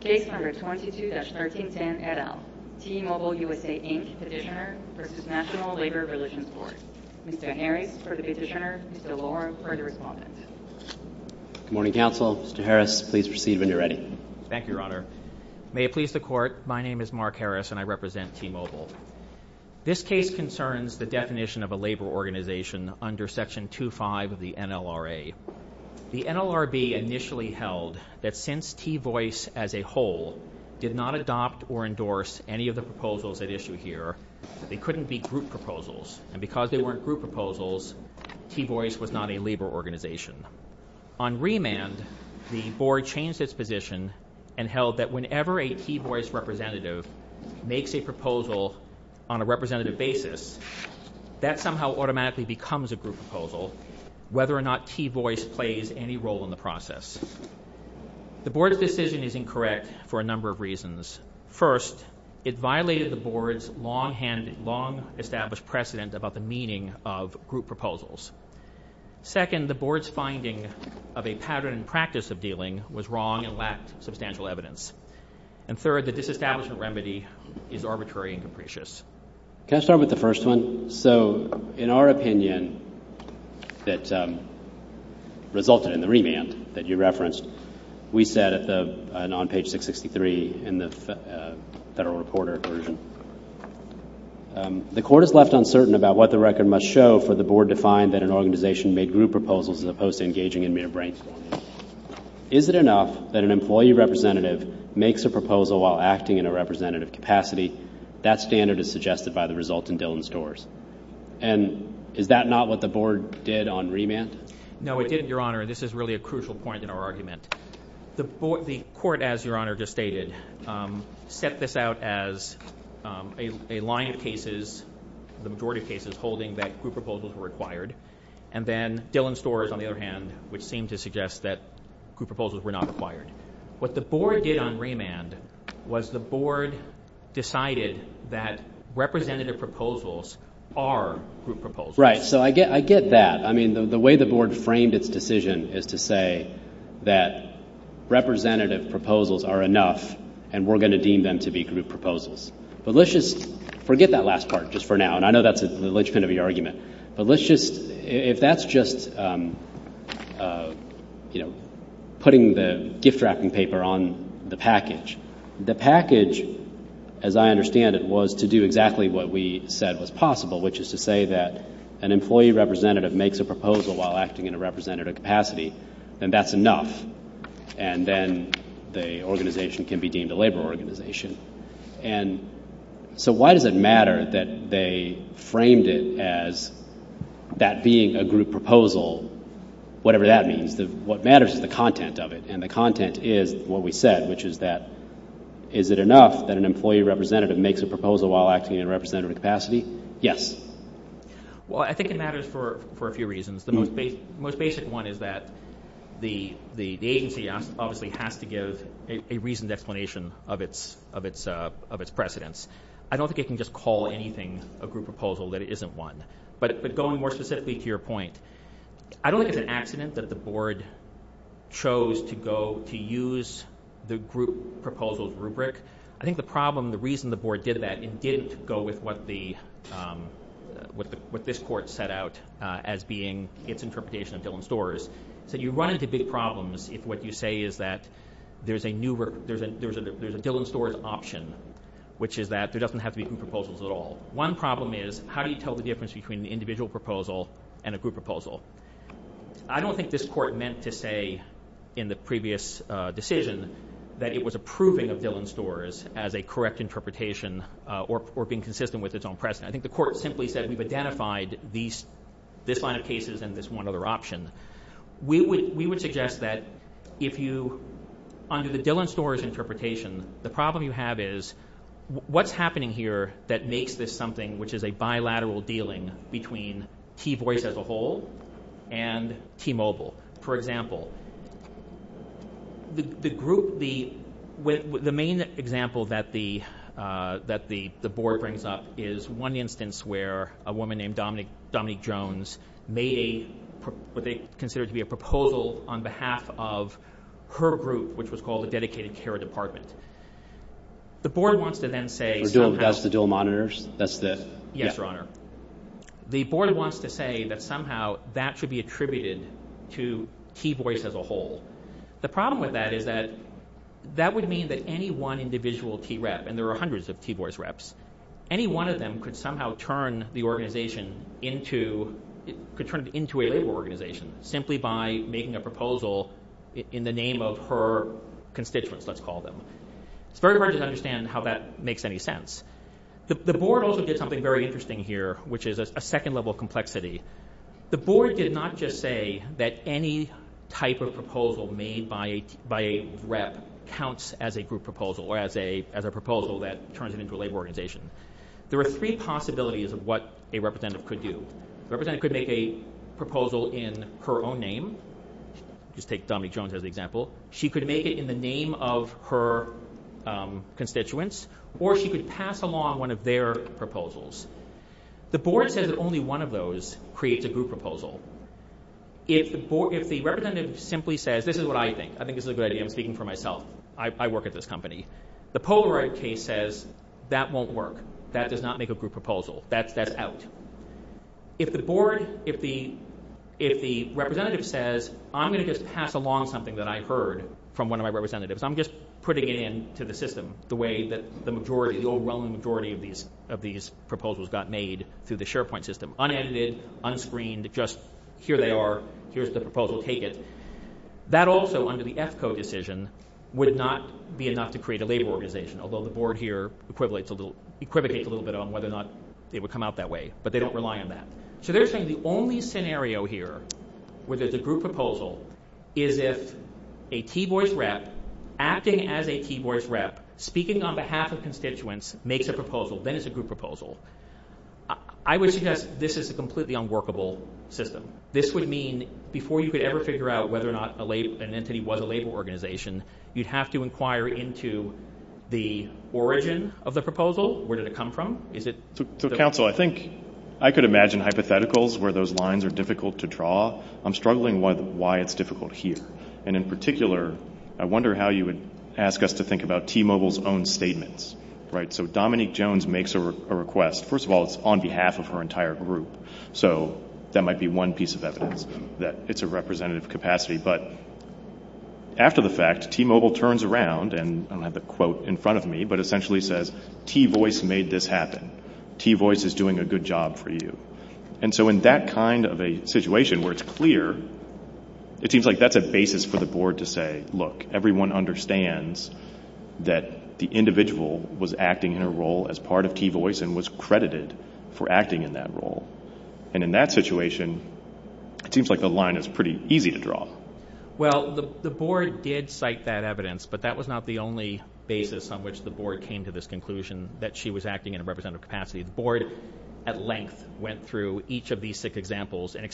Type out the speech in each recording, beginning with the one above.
Case No. 22-1310, et al. T-Mobile USA, Inc. Petitioner v. National Labor Religions Court Mr. Harris for the petitioner, Mr. Lohr for the respondent Good morning, Counsel. Mr. Harris, please proceed when you're ready. Thank you, Your Honor. May it please the Court, my name is Mark Harris and I represent T-Mobile. This case concerns the definition of a labor organization under Section 2.5 of the NLRA. The NLRB initially held that since T-Voice as a whole did not adopt or endorse any of the proposals at issue here, they couldn't be group proposals, and because they weren't group proposals, T-Voice was not a labor organization. On remand, the Board changed its position and held that whenever a T-Voice representative makes a proposal on a representative basis, that somehow automatically becomes a group proposal, whether or not T-Voice plays any role in the process. The Board's decision is incorrect for a number of reasons. First, it violated the Board's long-established precedent about the meaning of group proposals. Second, the Board's finding of a pattern and practice of dealing was wrong and lacked substantial evidence. And third, the disestablishment remedy is arbitrary and capricious. Can I start with the first one? So, in our opinion that resulted in the remand that you referenced, we said on page 663 in the Federal Reporter version, the Court is left uncertain about what the record must show for the Board to find that an organization made group proposals as opposed to engaging in mere brainstorming. Is it enough that an employee representative makes a proposal while acting in a representative capacity? That standard is suggested by the result in Dillon-Storrs. And is that not what the Board did on remand? No, it didn't, Your Honor. This is really a crucial point in our argument. The Court, as Your Honor just stated, set this out as a line of cases, the majority of cases, holding that group proposals were required. And then Dillon-Storrs, on the other hand, which seemed to suggest that group proposals were not required. What the Board did on remand was the Board decided that representative proposals are group proposals. Right. So, I get that. I mean, the way the Board framed its decision is to say that representative proposals are enough and we're going to deem them to be group proposals. But let's just forget that last part just for now. And I know that's the linchpin of your argument. But let's just, if that's just, you know, putting the gift wrapping paper on the package. The package, as I understand it, was to do exactly what we said was possible, which is to say that an employee representative makes a proposal while acting in a representative capacity. And that's enough. And then the organization can be deemed a labor organization. And so why does it matter that they framed it as that being a group proposal, whatever that means? What matters is the content of it. And the content is what we said, which is that is it enough that an employee representative makes a proposal while acting in a representative capacity? Yes. Well, I think it matters for a few reasons. The most basic one is that the agency obviously has to give a reasoned explanation of its precedents. I don't think it can just call anything a group proposal that it isn't one. But going more specifically to your point, I don't think it's an accident that the Board chose to go to use the group proposal rubric. I think the problem, the reason the Board did that, it didn't go with what this Court set out as being its interpretation of Dillon-Storrs. So you run into big problems if what you say is that there's a Dillon-Storrs option, which is that there doesn't have to be group proposals at all. One problem is how do you tell the difference between an individual proposal and a group proposal? I don't think this Court meant to say in the previous decision that it was approving of Dillon-Storrs as a correct interpretation or being consistent with its own precedent. I think the Court simply said we've identified this line of cases and this one other option. We would suggest that if you, under the Dillon-Storrs interpretation, the problem you have is what's happening here that makes this something which is a bilateral dealing between T-Voice as a whole and T-Mobile. For example, the group, the main example that the Board brings up is one instance where a woman named Dominique Jones made what they considered to be a proposal on behalf of her group, which was called the Dedicated Care Department. The Board wants to then say somehow... That's the dual monitors? Yes, Your Honor. The Board wants to say that somehow that should be attributed to T-Voice as a whole. The problem with that is that that would mean that any one individual T-Rep, and there are hundreds of T-Voice reps, any one of them could somehow turn the organization into a labor organization simply by making a proposal in the name of her constituents, let's call them. It's very hard to understand how that makes any sense. The Board also did something very interesting here, which is a second level of complexity. The Board did not just say that any type of proposal made by a rep counts as a group proposal or as a proposal that turns it into a labor organization. There are three possibilities of what a representative could do. A representative could make a proposal in her own name. Just take Dominique Jones as an example. She could make it in the name of her constituents or she could pass along one of their proposals. The Board says that only one of those creates a group proposal. If the representative simply says, this is what I think, I think this is a good idea, I'm speaking for myself. I work at this company. The Polaroid case says that won't work. That does not make a group proposal. That's out. If the Board, if the representative says, I'm going to just pass along something that I heard from one of my representatives. I'm just putting it into the system the way that the majority, the overwhelming majority of these proposals got made through the SharePoint system. Unedited, unscreened, just here they are. Here's the proposal. Take it. That also, under the EFCO decision, would not be enough to create a labor organization. Although the Board here equivocates a little bit on whether or not it would come out that way. But they don't rely on that. So they're saying the only scenario here where there's a group proposal is if a T-Boys rep, acting as a T-Boys rep, speaking on behalf of constituents, makes a proposal. Then it's a group proposal. I would suggest this is a completely unworkable system. This would mean, before you could ever figure out whether or not an entity was a labor organization, you'd have to inquire into the origin of the proposal. Where did it come from? So, counsel, I think I could imagine hypotheticals where those lines are difficult to draw. I'm struggling with why it's difficult here. And in particular, I wonder how you would ask us to think about T-Mobile's own statements. So Dominique Jones makes a request. First of all, it's on behalf of her entire group. So that might be one piece of evidence that it's a representative capacity. But after the fact, T-Mobile turns around and, I don't have the quote in front of me, but essentially says, T-Voice made this happen. T-Voice is doing a good job for you. And so in that kind of a situation where it's clear, it seems like that's a basis for the board to say, look, everyone understands that the individual was acting in a role as part of T-Voice and was credited for acting in that role. And in that situation, it seems like the line is pretty easy to draw. Well, the board did cite that evidence, but that was not the only basis on which the board came to this conclusion that she was acting in a representative capacity. The board, at length, went through each of these six examples and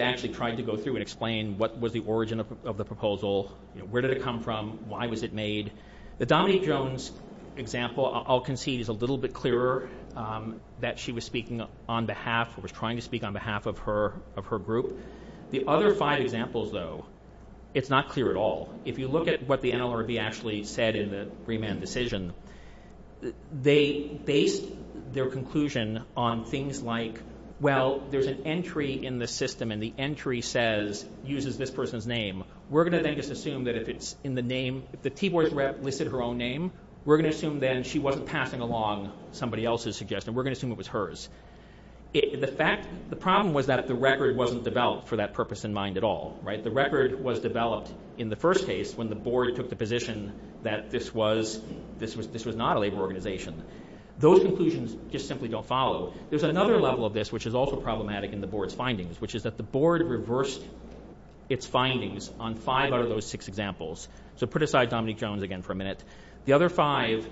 actually tried to go through and explain what was the origin of the proposal, where did it come from, why was it made. The Dominique Jones example, I'll concede, is a little bit clearer that she was speaking on behalf, or was trying to speak on behalf of her group. The other five examples, though, it's not clear at all. If you look at what the NLRB actually said in the remand decision, they based their conclusion on things like, well, there's an entry in the system and the entry says, uses this person's name. We're going to then just assume that if it's in the name, if the T-Voice rep listed her own name, we're going to assume then she wasn't passing along somebody else's suggestion, we're going to assume it was hers. The problem was that the record wasn't developed for that purpose in mind at all. The record was developed in the first case when the board took the position that this was not a labor organization. Those conclusions just simply don't follow. There's another level of this which is also problematic in the board's findings, which is that the board reversed its findings on five out of those six examples. So put aside Dominique Jones again for a minute. The other five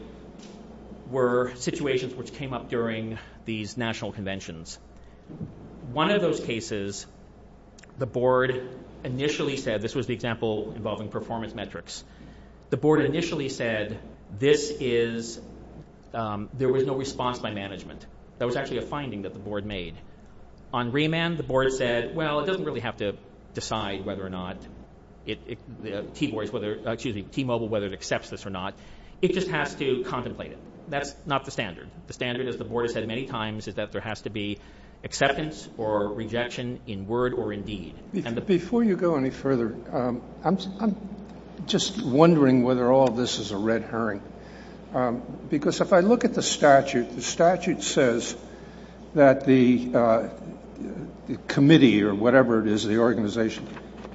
were situations which came up during these national conventions. One of those cases, the board initially said, this was the example involving performance metrics. The board initially said there was no response by management. That was actually a finding that the board made. On remand, the board said, well, it doesn't really have to decide whether or not T-Mobile accepts this or not. It just has to contemplate it. That's not the standard. The standard, as the board has said many times, is that there has to be acceptance or rejection in word or in deed. Before you go any further, I'm just wondering whether all this is a red herring. Because if I look at the statute, the statute says that the committee or whatever it is, the organization,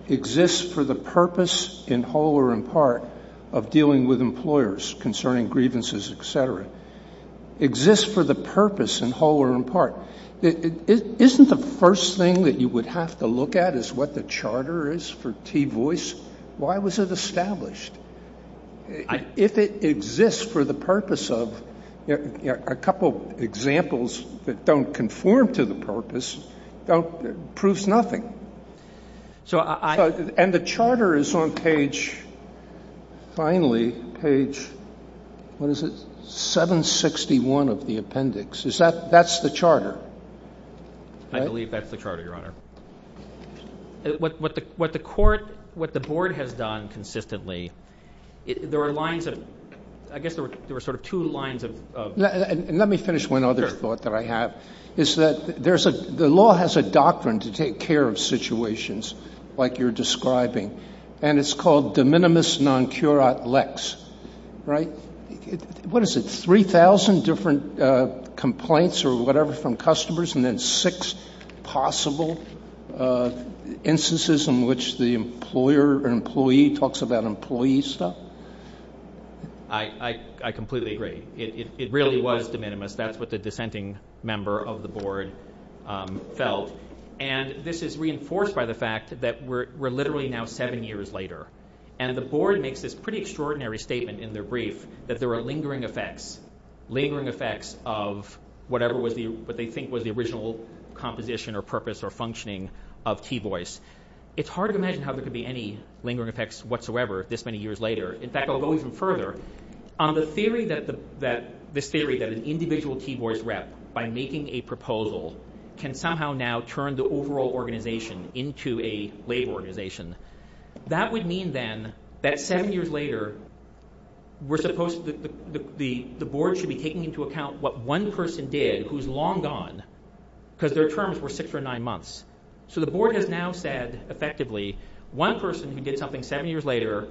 exists for the purpose in whole or in part of dealing with employers concerning grievances, etc. Exists for the purpose in whole or in part. Isn't the first thing that you would have to look at is what the charter is for T-Voice? Why was it established? If it exists for the purpose of a couple examples that don't conform to the purpose, it proves nothing. And the charter is on page finally, page 761 of the appendix. That's the charter? I believe that's the charter, Your Honor. What the court, what the board has done consistently, there are lines of two lines of Let me finish one other thought that I have. The law has a doctrine to take care of situations like you're describing. And it's called de minimis non curat lex. What is it, 3,000 different complaints or whatever from customers and then six possible instances in which the employer or employee talks about employee stuff? I completely agree. It really was de minimis. That's what the dissenting member of the board felt. And this is reinforced by the fact that we're literally now seven years later. And the board makes this pretty extraordinary statement in their brief that there are lingering effects of whatever they think was the original composition or purpose or functioning of T-Voice. It's hard to imagine how there could be any lingering effects whatsoever this many years later. In fact, I'll go even further. This theory that an individual T-Voice rep by making a proposal can somehow now turn the overall organization into a labor organization. That would mean then that seven years later the board should be taking into account what one person did who's long gone because their terms were six or nine months. So the board has now said effectively one person who did something seven years later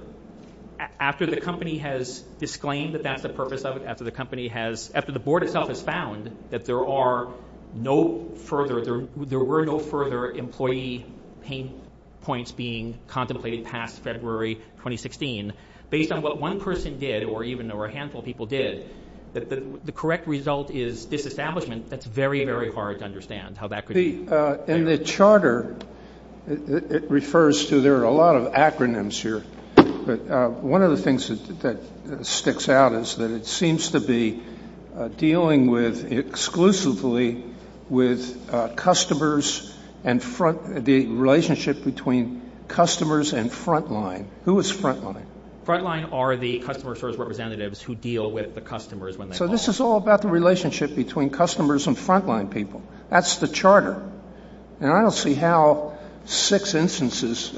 after the company has disclaimed that that's the purpose of it after the board itself has found that there were no further employee pain points being contemplated past February 2016 based on what one person did or even a handful of people did the correct result is disestablishment that's very, very hard to understand. In the charter it refers to, there are a lot of acronyms here but one of the things that sticks out is that it seems to be dealing with exclusively with customers and front, the relationship between customers and front line. Who is front line? So this is all about the relationship between customers and front line people. That's the charter. And I don't see how six instances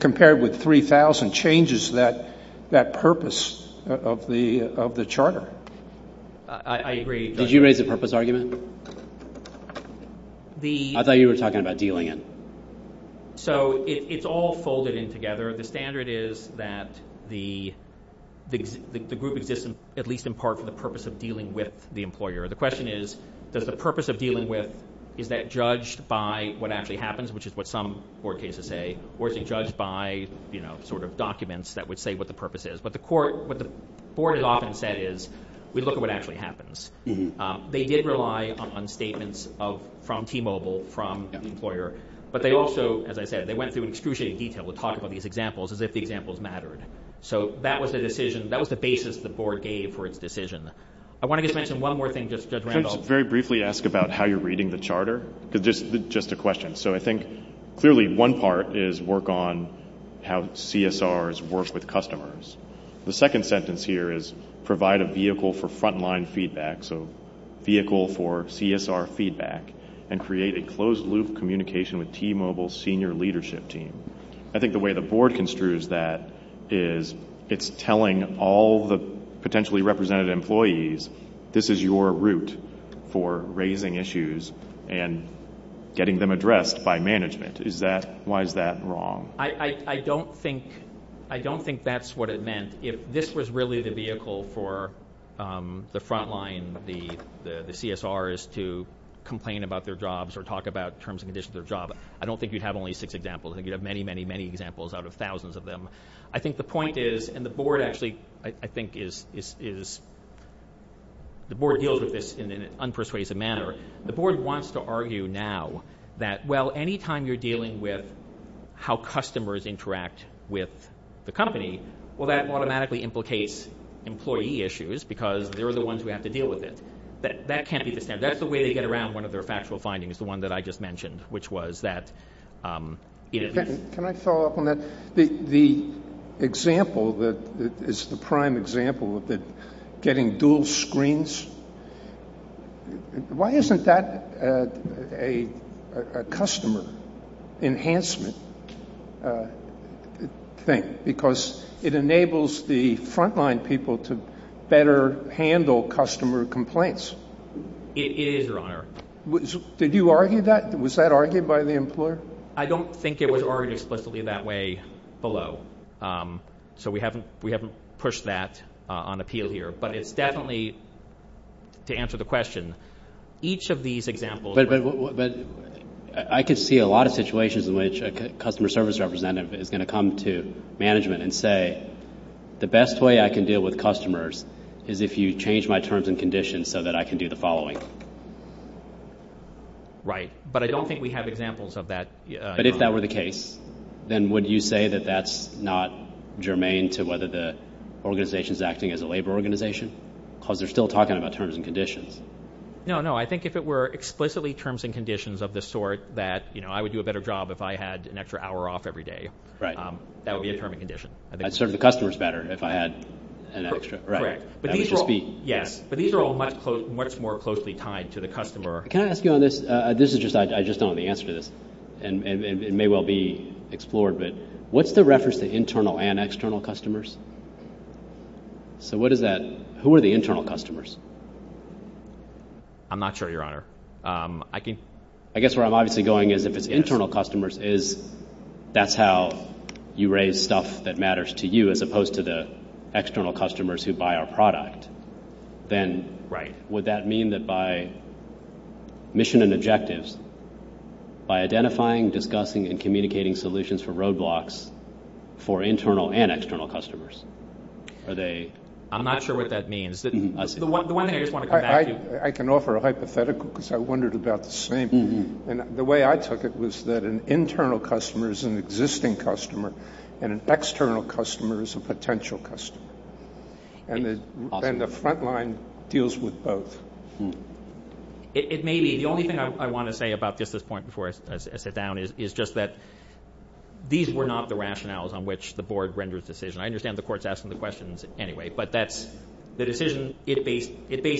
compared with 3,000 changes that purpose of the charter. Did you raise a purpose argument? I thought you were talking about dealing it. So it's all folded in together The standard is that the group exists at least in part for the purpose of dealing with the employer. The question is, does the purpose of dealing with is that judged by what actually happens which is what some board cases say or is it judged by documents that would say what the purpose is What the board has often said is, we look at what actually happens They did rely on statements from T-Mobile, from the employer But they also, as I said, they went through excruciating detail to talk about these examples as if the examples mattered So that was the basis the board gave for its decision I want to just mention one more thing Very briefly ask about how you're reading the charter So I think clearly one part is work on how CSRs work with customers The second sentence here is provide a vehicle for front line feedback Vehicle for CSR feedback and create a closed loop communication with T-Mobile's senior leadership team I think the way the board construes that is it's telling all the potentially represented employees this is your route for raising issues and getting them addressed by management Why is that wrong? I don't think that's what it meant If this was really the vehicle for the front line, the CSRs to complain about their jobs or talk about terms and conditions of their jobs I don't think you'd have only six examples I think you'd have many, many, many examples out of thousands of them I think the point is, and the board actually The board deals with this in an unpersuasive manner The board wants to argue now that anytime you're dealing with how customers interact with the company well that automatically implicates employee issues because they're the ones who have to deal with it That can't be the standard. That's the way they get around one of their factual findings the one that I just mentioned Can I follow up on that? The example that is the prime example of getting dual screens Why isn't that a customer enhancement thing because it enables the front line people to better handle customer complaints It is, your honor Did you argue that? Was that argued by the employer? I don't think it was argued explicitly that way below So we haven't pushed that on appeal here, but it's definitely to answer the question each of these examples I could see a lot of situations in which a customer service representative is going to come to management and say the best way I can deal with customers is if you change my terms and conditions so that I can do the following Right, but I don't think we have examples of that But if that were the case then would you say that that's not germane to whether the organization is acting as a labor organization because they're still talking about terms and conditions No, I think if it were explicitly terms and conditions that I would do a better job if I had an extra hour off every day that would be a term and condition I'd serve the customers better if I had an extra hour Yes, but these are all much more closely tied I just don't have the answer to this It may well be explored What's the reference to internal and external customers? Who are the internal customers? I'm not sure, your honor I guess where I'm going is if it's internal customers that's how you raise stuff that matters to you as opposed to the external customers who buy our product then would that mean that by mission and objectives by identifying, discussing, and communicating solutions for roadblocks for internal and external customers I'm not sure what that means I can offer a hypothetical because I wondered about the same and the way I took it was that an internal customer is an existing customer and an external customer is a potential customer and the front line deals with both The only thing I want to say about this at this point before I sit down is that these were not the rationales on which the board rendered the decision I understand the court's asking the questions anyway but it based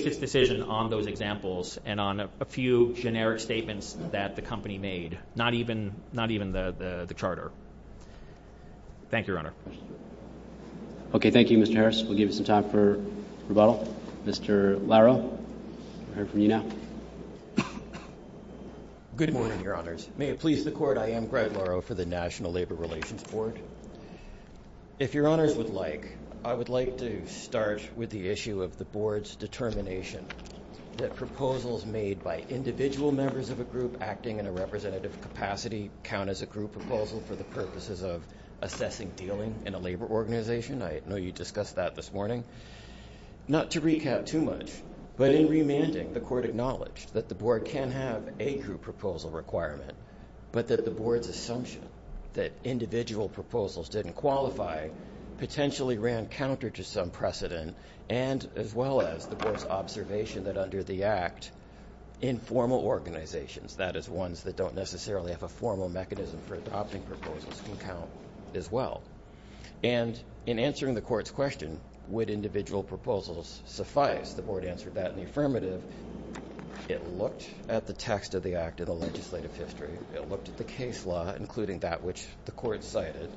its decision on those examples and on a few generic statements that the company made not even the charter Thank you, your honor Okay, thank you, Mr. Harris We'll give you some time for rebuttal Mr. Laro, we'll hear from you now Good morning, your honors May it please the court, I am Greg Laro for the National Labor Relations Board If your honors would like I would like to start with the issue of the board's determination that proposals made by individual members of a group acting in a representative capacity count as a group proposal for the purposes of Not to recap too much but in remanding, the court acknowledged that the board can have a group proposal requirement but that the board's assumption that individual proposals didn't qualify potentially ran counter to some precedent and as well as the board's observation that under the act, informal organizations that is ones that don't necessarily have a formal mechanism for adopting proposals can count as well and in answering the court's question would individual proposals suffice the board answered that in the affirmative it looked at the text of the act in the legislative history it looked at the case law including that which the court cited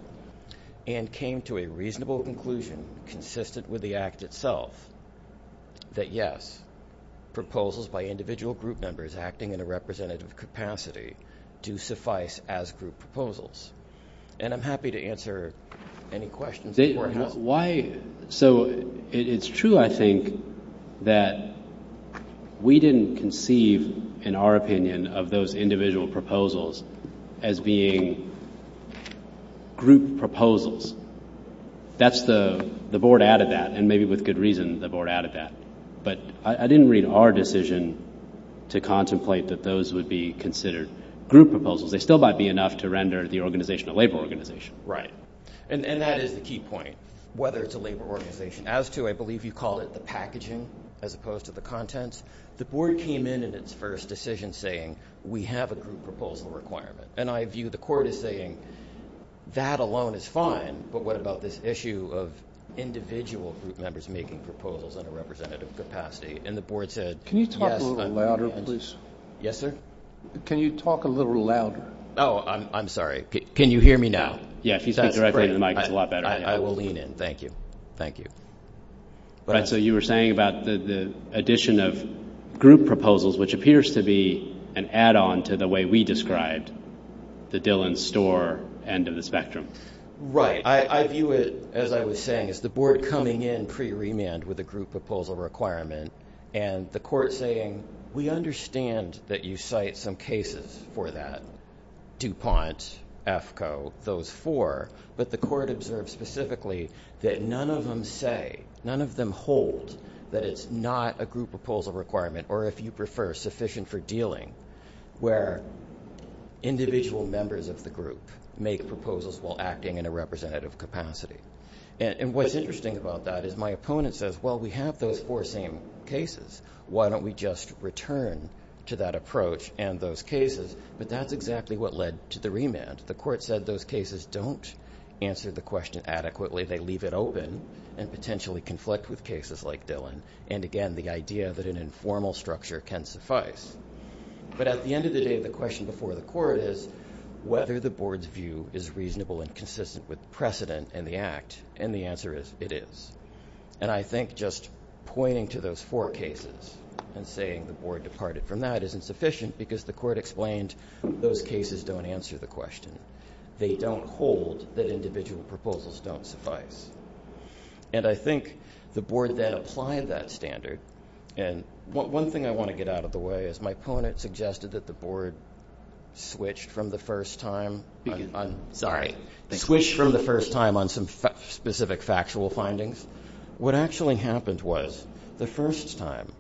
and came to a reasonable conclusion consistent with the act itself that yes, proposals by individual group members acting in a representative capacity do suffice as group proposals and I'm happy to answer any questions So it's true I think that we didn't conceive in our opinion of those individual proposals as being group proposals that's the board added that and maybe with good reason the board added that but I didn't read our decision to contemplate that those would be considered group proposals, they still might be enough to render the organization a labor organization And that is the key point, whether it's a labor organization as to I believe you call it the packaging as opposed to the contents the board came in in its first decision saying we have a group proposal requirement and I view the court as saying that alone is fine but what about this issue of individual group members making proposals in a representative capacity Can you talk a little louder please? Can you talk a little louder? Can you hear me now? I will lean in, thank you So you were saying about the addition of group proposals which appears to be an add-on to the way we described the Dillon's store end of the spectrum Right, I view it as I was saying as the board coming in pre-remand with a group proposal requirement and the court saying we understand that you cite some cases for that DuPont, AFCO, those four but the court observed specifically that none of them say, none of them hold that it's not a group proposal requirement or if you prefer sufficient for dealing where individual members of the group make proposals while acting in a representative capacity and what's interesting about that is my opponent says well we have those four same cases why don't we just return to that approach and those cases but that's exactly what led to the remand, the court said those cases don't answer the question adequately, they leave it open and potentially conflict with cases like Dillon and again the idea that an informal structure can suffice but at the end of the day the question before the court is whether the board's view is reasonable and consistent with precedent and the act and the answer is it is and I think just pointing to those four cases and saying the board departed from that isn't sufficient because the court explained those cases don't answer the question, they don't hold that individual proposals don't suffice and I think the board then applied that standard and one thing I want to get out of the way is my opponent suggested that the board switched from the first time on some specific factual findings what actually happened was the first time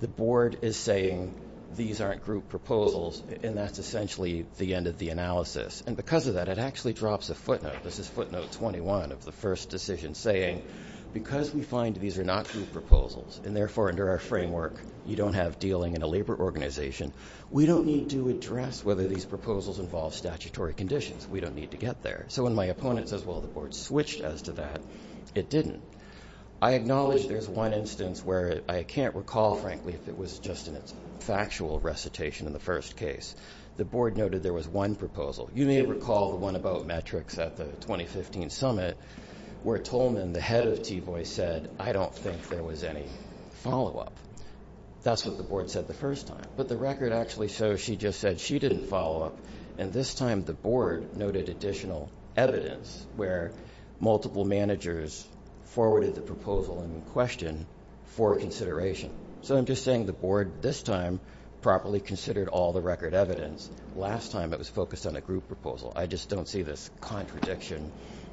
the board is saying these aren't group proposals and that's essentially the end of the analysis and because of that it actually drops a footnote, this is footnote 21 of the first decision saying because we find these are not group proposals and therefore under our framework you don't have dealing in a labor organization, we don't need to address whether these proposals involve statutory conditions we don't need to get there, so when my opponent says well the board switched as to that, it didn't I acknowledge there's one instance where I can't recall frankly if it was just a factual recitation in the first case the board noted there was one proposal you may recall the one about metrics at the 2015 summit where Tolman, the head of TVOI said I don't think there was any follow up that's what the board said the first time but the record actually shows she just said she didn't follow up and this time the board noted additional evidence where multiple managers forwarded the proposal in question for consideration so I'm just saying the board this time properly considered all the record evidence last time it was focused on a group proposal I just don't see this contradiction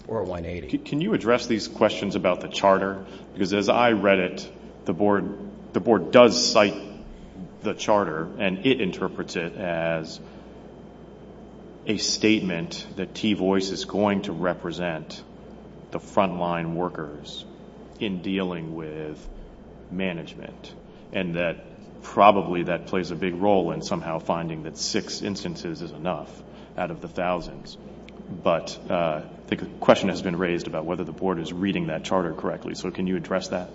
or 180 Can you address these questions about the charter because as I read it, the board does cite the charter and it interprets it as a statement that TVOI is going to represent the front line workers in dealing with management and that probably that plays a big role in somehow finding that six instances is enough out of the thousands but the question has been raised about whether the board is reading that charter correctly so can you address that?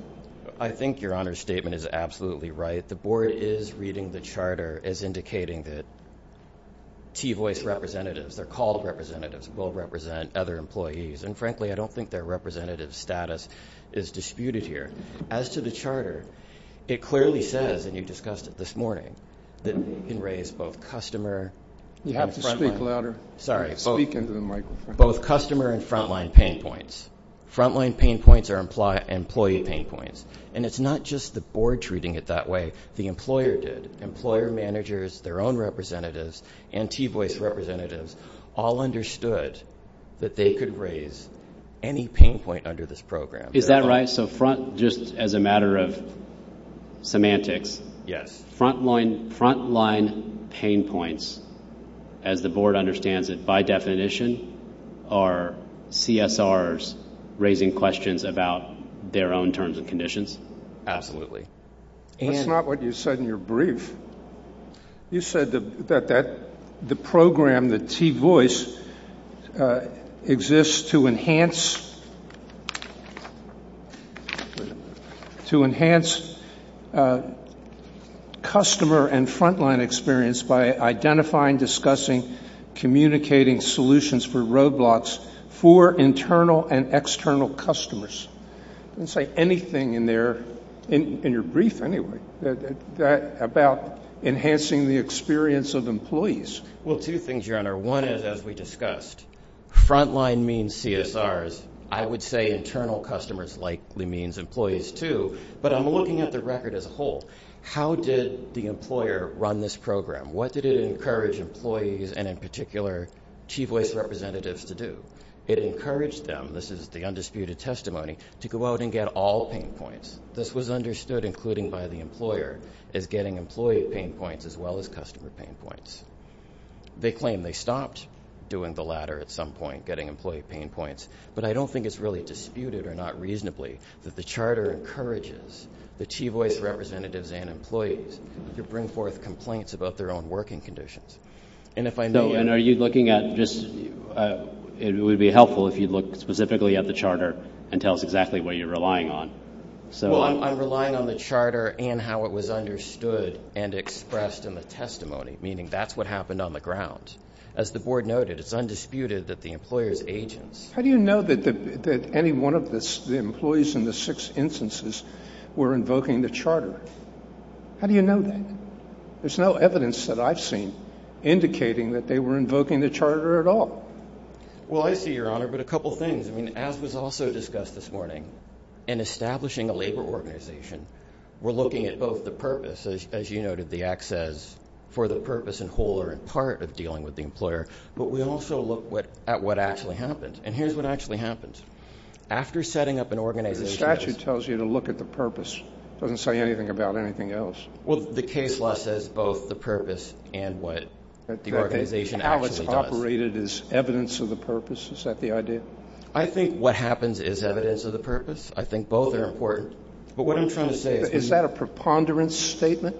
I think your honor's statement is absolutely right the board is reading the charter as indicating that TVOI's representatives, their called representatives will represent other employees and frankly I don't think their representative status is disputed here as to the charter, it clearly says and you discussed it this morning that we can raise both customer both customer and front line pain points front line pain points are employee pain points and it's not just the board treating it that way the employer did. Employer managers their own representatives and TVOI's representatives all understood that they could raise any pain point under this program Is that right? So just as a matter of semantics front line pain points as the board understands it by definition are CSR's raising questions about their own terms and conditions? Absolutely That's not what you said in your brief You said that the program the TVOI's exists to enhance to enhance customer and front line experience by identifying, discussing communicating solutions for road blocks for internal and external customers I didn't say anything in there in your brief anyway about enhancing the experience of employees Well two things your honor, one is as we discussed front line means CSR's I would say internal customers likely means employees too but I'm looking at the record as a whole How did the employer run this program? What did it encourage employees and in particular TVOI's representatives to do? It encouraged them, this is the undisputed testimony to go out and get all pain points This was understood including by the employer as getting employee pain points as well as customer pain points They claim they stopped doing the latter at some point getting employee pain points but I don't think it's really disputed or not reasonably that the charter encourages the TVOI's representatives and employees to bring forth complaints about their own working conditions And are you looking at it would be helpful if you look specifically at the charter and tell us exactly what you're relying on I'm relying on the charter and how it was understood and expressed in the testimony, meaning that's what happened on the ground As the board noted, it's undisputed that the employer's agents How do you know that any one of the employees in the six instances were invoking the charter? How do you know that? There's no evidence that I've seen indicating that they were invoking the charter at all Well I see your honor, but a couple things As was also discussed this morning, in establishing a labor organization we're looking at both the purpose, as you noted the access for the purpose in whole or in part of dealing with the employer, but we also look at what actually happened, and here's what actually happened After setting up an organization... The statute tells you to look at the purpose, it doesn't say anything about anything else Well the case law says both the purpose and what the organization actually does Alex operated as evidence of the purpose, is that the idea? I think what happens is evidence of the purpose I think both are important Is that a preponderance statement?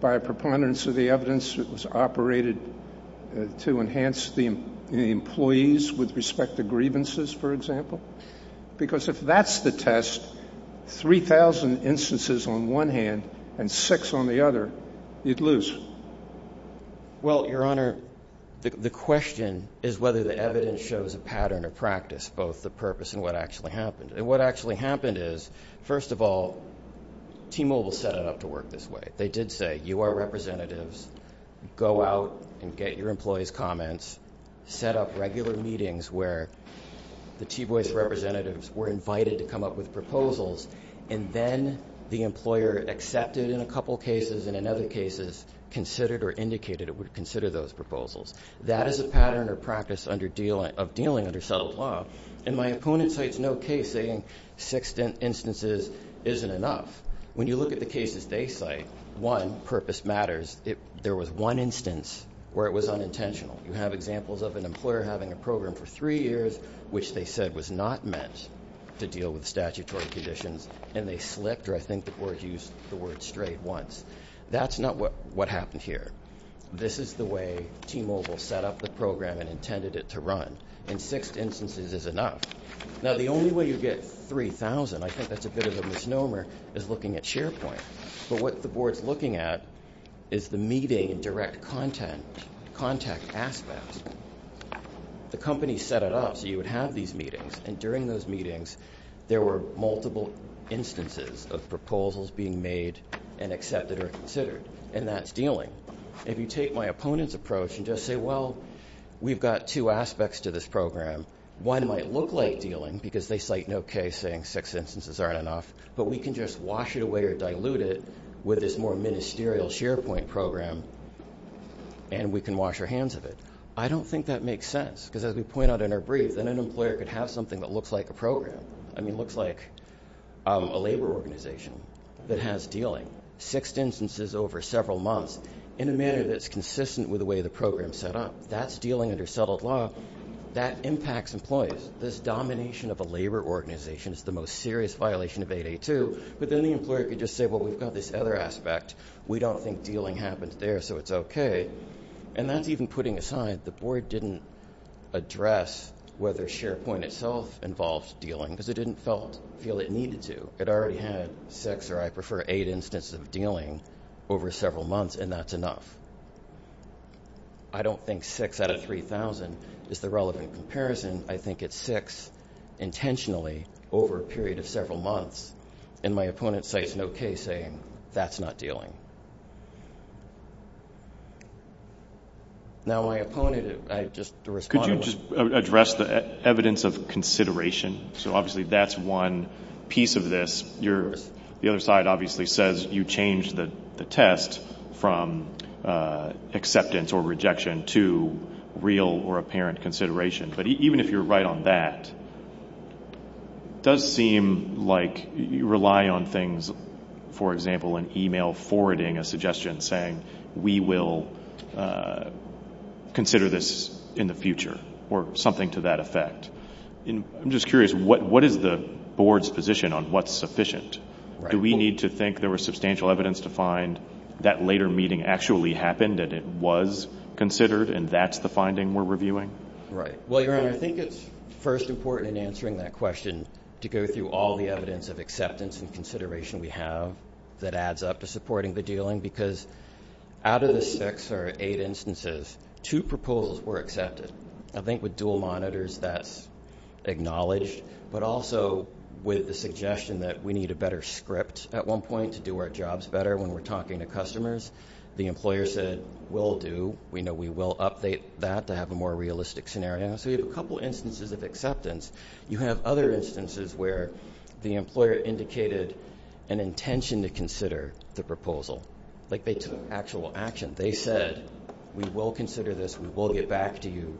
By a preponderance of the evidence it was operated to enhance the employees with respect to grievances, for example Because if that's the test, 3,000 instances on one hand, and 6 on the other you'd lose Well your honor, the question is whether the evidence shows a pattern or practice, both the purpose and what actually happened And what actually happened is, first of all T-Mobile set it up to work this way They did say, you are representatives, go out and get your employees' comments, set up regular meetings where the T-Voice representatives were invited to come up with proposals and then the employer accepted in a couple cases and in other cases, considered or indicated it would consider those proposals That is a pattern or practice of dealing under settled law, and my opponent cites no case saying 6 instances isn't enough When you look at the cases they cite One, purpose matters, there was one instance where it was unintentional You have examples of an employer having a program for 3 years which they said was not meant to deal with statutory conditions and they slipped, or I think the board used the word strayed once That's not what happened here This is the way T-Mobile set up the program and intended it to run, and 6 instances is enough Now the only way you get 3,000, I think that's a bit of a misnomer is looking at SharePoint, but what the board is looking at is the meeting and direct contact aspects The company set it up so you would have these meetings and during those meetings, there were multiple instances of proposals being made and accepted or considered and that's dealing If you take my opponent's approach and just say Well, we've got 2 aspects to this program One might look like dealing, because they cite no case saying 6 instances aren't enough, but we can just wash it away or dilute it with this more ministerial SharePoint program and we can wash our hands of it I don't think that makes sense, because as we point out in our brief an employer could have something that looks like a program I mean, looks like a labor organization that has dealing, 6 instances over several months in a manner that's consistent with the way the program is set up That's dealing under settled law That impacts employees. This domination of a labor organization is the most serious violation of 8.8.2 But then the employer could just say, well, we've got this other aspect We don't think dealing happens there, so it's okay And that's even putting aside, the board didn't address whether SharePoint itself involved dealing because it didn't feel it needed to It already had 6, or I prefer 8, instances of dealing over several months, and that's enough I don't think 6 out of 3,000 is the relevant comparison I think it's 6 intentionally over a period of several months And my opponent cites no case saying, that's not dealing Now my opponent, I just respond Could you just address the evidence of consideration So obviously that's one piece of this The other side obviously says you changed the test from acceptance or rejection to real or apparent consideration But even if you're right on that It does seem like you rely on things For example, an email forwarding a suggestion saying, we will consider this in the future or something to that effect I'm just curious, what is the board's position on what's sufficient? Do we need to think there was substantial evidence to find that later meeting actually happened and it was considered and that's the finding we're reviewing? I think it's first important in answering that question to go through all the evidence of acceptance and consideration we have that adds up to supporting the dealing Because out of the 6 or 8 instances 2 proposals were accepted I think with dual monitors that's acknowledged But also with the suggestion that we need a better script at one point to do our jobs better when we're talking to customers The employer said, we'll do We know we will update that to have a more realistic scenario So you have a couple instances of acceptance You have other instances where the employer indicated an intention to consider the proposal Like they took actual action They said, we will consider this, we will get back to you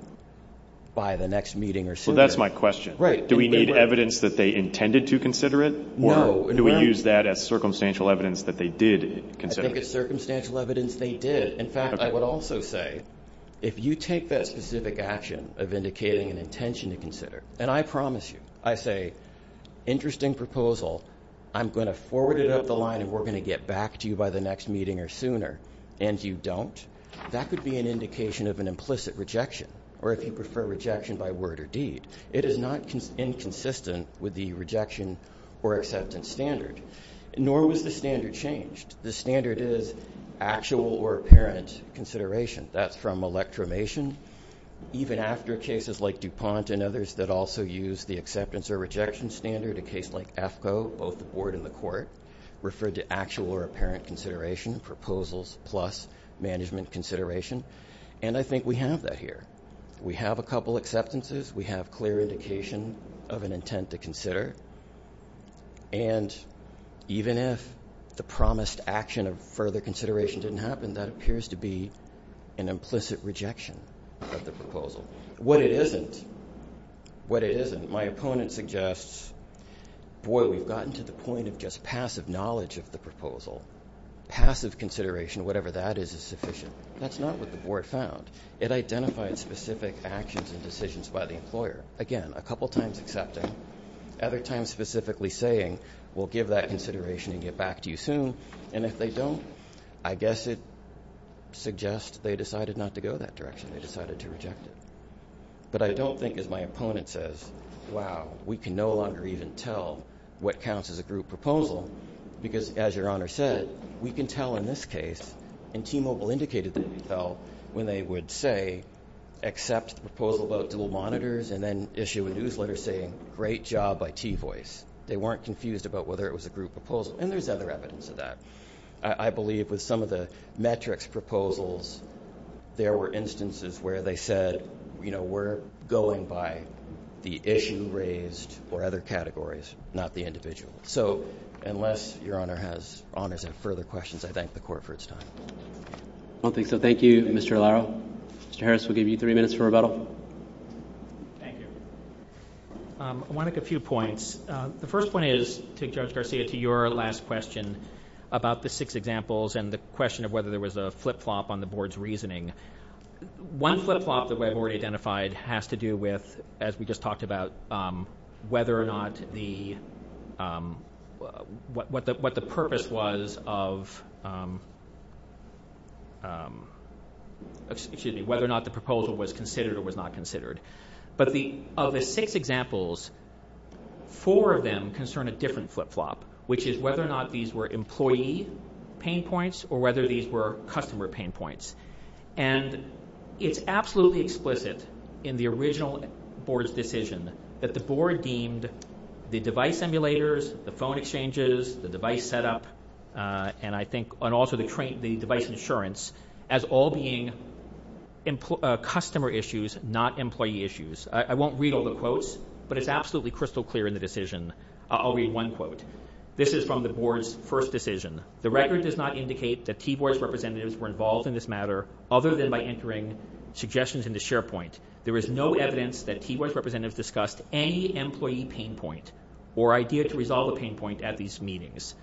by the next meeting or sooner Do we need evidence that they intended to consider it? Or do we use that as circumstantial evidence that they did consider it? I think it's circumstantial evidence they did In fact, I would also say, if you take that specific action of indicating an intention to consider And I promise you, I say, interesting proposal I'm going to forward it up the line and we're going to get back to you by the next meeting or sooner, and you don't That could be an indication of an implicit rejection Or if you prefer rejection by word or deed It is not inconsistent with the rejection or acceptance standard Nor was the standard changed The standard is actual or apparent consideration That's from electromation Even after cases like DuPont and others that also use The acceptance or rejection standard A case like AFCO, both the board and the court Referred to actual or apparent consideration Proposals plus management consideration And I think we have that here We have a couple of acceptances We have clear indication of an intent to consider And even if the promised action of further consideration Didn't happen, that appears to be an implicit rejection What it isn't My opponent suggests Boy, we've gotten to the point of just passive knowledge of the proposal Passive consideration, whatever that is, is sufficient That's not what the board found It identified specific actions and decisions by the employer Again, a couple times accepting Other times specifically saying, we'll give that consideration And get back to you soon And if they don't, I guess it suggests They decided not to go that direction They decided to reject it But I don't think as my opponent says Wow, we can no longer even tell what counts as a group proposal Because as your honor said We can tell in this case And T-Mobile indicated that we could tell When they would say, accept the proposal about dual monitors And then issue a newsletter saying, great job by T-Voice They weren't confused about whether it was a group proposal And there's other evidence of that I believe with some of the metrics proposals There were instances where they said We're going by the issue raised Or other categories, not the individual So unless your honor has further questions I thank the court for its time I don't think so. Thank you, Mr. Allaro Mr. Harris, we'll give you three minutes for rebuttal I want to make a few points The first point is, Judge Garcia, to your last question About the six examples and the question of whether There was a flip-flop on the board's reasoning One flip-flop that we've already identified has to do with As we just talked about Whether or not the What the purpose was Of Excuse me, whether or not the proposal was considered Or was not considered Of the six examples, four of them concern a different flip-flop Which is whether or not these were employee Pain points or whether these were customer pain points And it's absolutely explicit In the original board's decision That the board deemed the device emulators The phone exchanges, the device setup And I think also the device insurance As all being customer issues Not employee issues. I won't read all the quotes But it's absolutely crystal clear in the decision I'll read one quote. This is from the board's first decision The record does not indicate that T-Board's representatives Were involved in this matter other than by entering Suggestions into SharePoint. There is no evidence that T-Board's representatives discussed any employee pain point Or idea to resolve a pain point at these meetings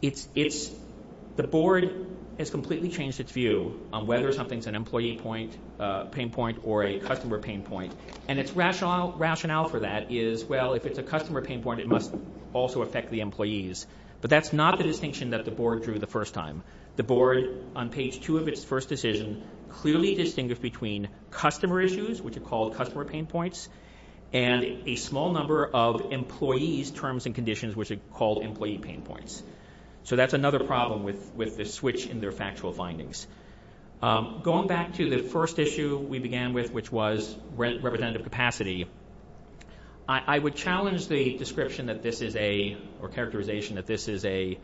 The board has completely Changed its view on whether something's an employee Pain point or a customer pain point And its rationale for that is, well, if it's a customer Pain point, it must also affect the employees But that's not the distinction that the board drew the first time The board, on page two of its first decision Clearly distinguished between customer issues Which are called customer pain points And a small number of employees' terms and conditions Which are called employee pain points So that's another problem with the switch in their factual findings Going back to the first issue we began with Which was representative capacity I would challenge the description that this is a Or characterization that this is an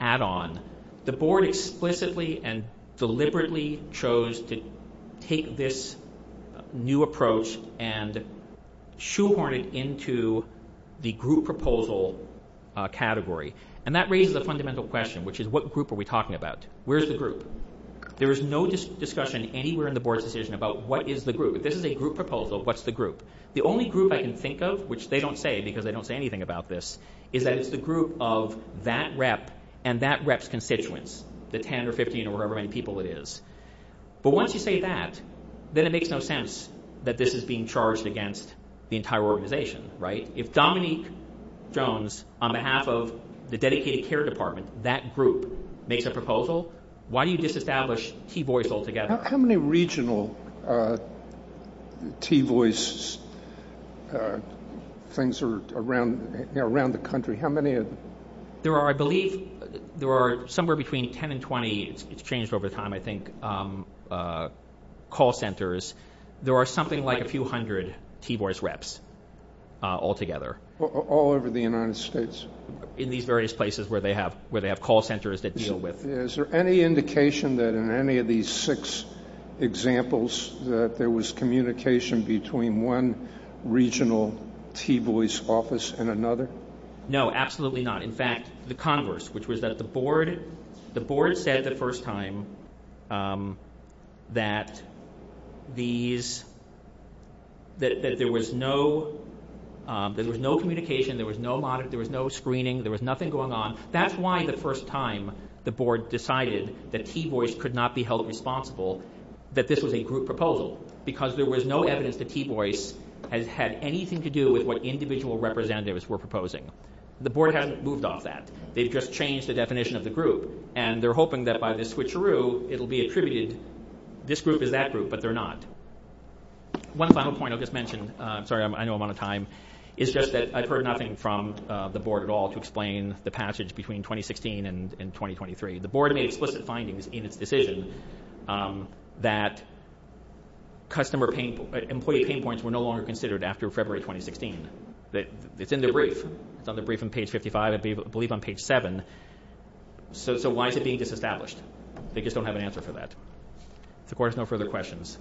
add-on The board explicitly and deliberately Chose to take this new approach And shoehorn it into The group proposal category And that raises a fundamental question Which is what group are we talking about? Where's the group? There is no discussion anywhere in the board's decision about what is the group If this is a group proposal, what's the group? The only group I can think of, which they don't say Because they don't say anything about this Is that it's the group of that rep and that rep's constituents The 10 or 15 or however many people it is But once you say that, then it makes no sense That this is being charged against the entire organization If Dominique Jones, on behalf of the dedicated care department That group makes a proposal Why do you disestablish T-voice altogether? How many regional T-voice things Around the country? There are, I believe, somewhere between 10 and 20 It's changed over time Call centers There are something like a few hundred T-voice reps Altogether In these various places where they have call centers Is there any indication that in any of these six Examples that there was communication Between one regional T-voice office And another? No, absolutely not. In fact, the converse The board said the first time That these That there was no Communication, there was no screening There was nothing going on That's why the first time the board decided That T-voice could not be held responsible That this was a group proposal Because there was no evidence that T-voice Had anything to do with what individual representatives were proposing The board hasn't moved off that They've just changed the definition of the group And they're hoping that by the switcheroo It'll be attributed This group is that group, but they're not One final point I'll just mention I've heard nothing from the board at all To explain the passage between 2016 and 2023 The board made explicit findings in its decision That employee pain points were no longer considered After February 2016 It's in the brief It's on the brief on page 55 I believe on page 7 So why is it being disestablished? They just don't have an answer to that The court has no further questions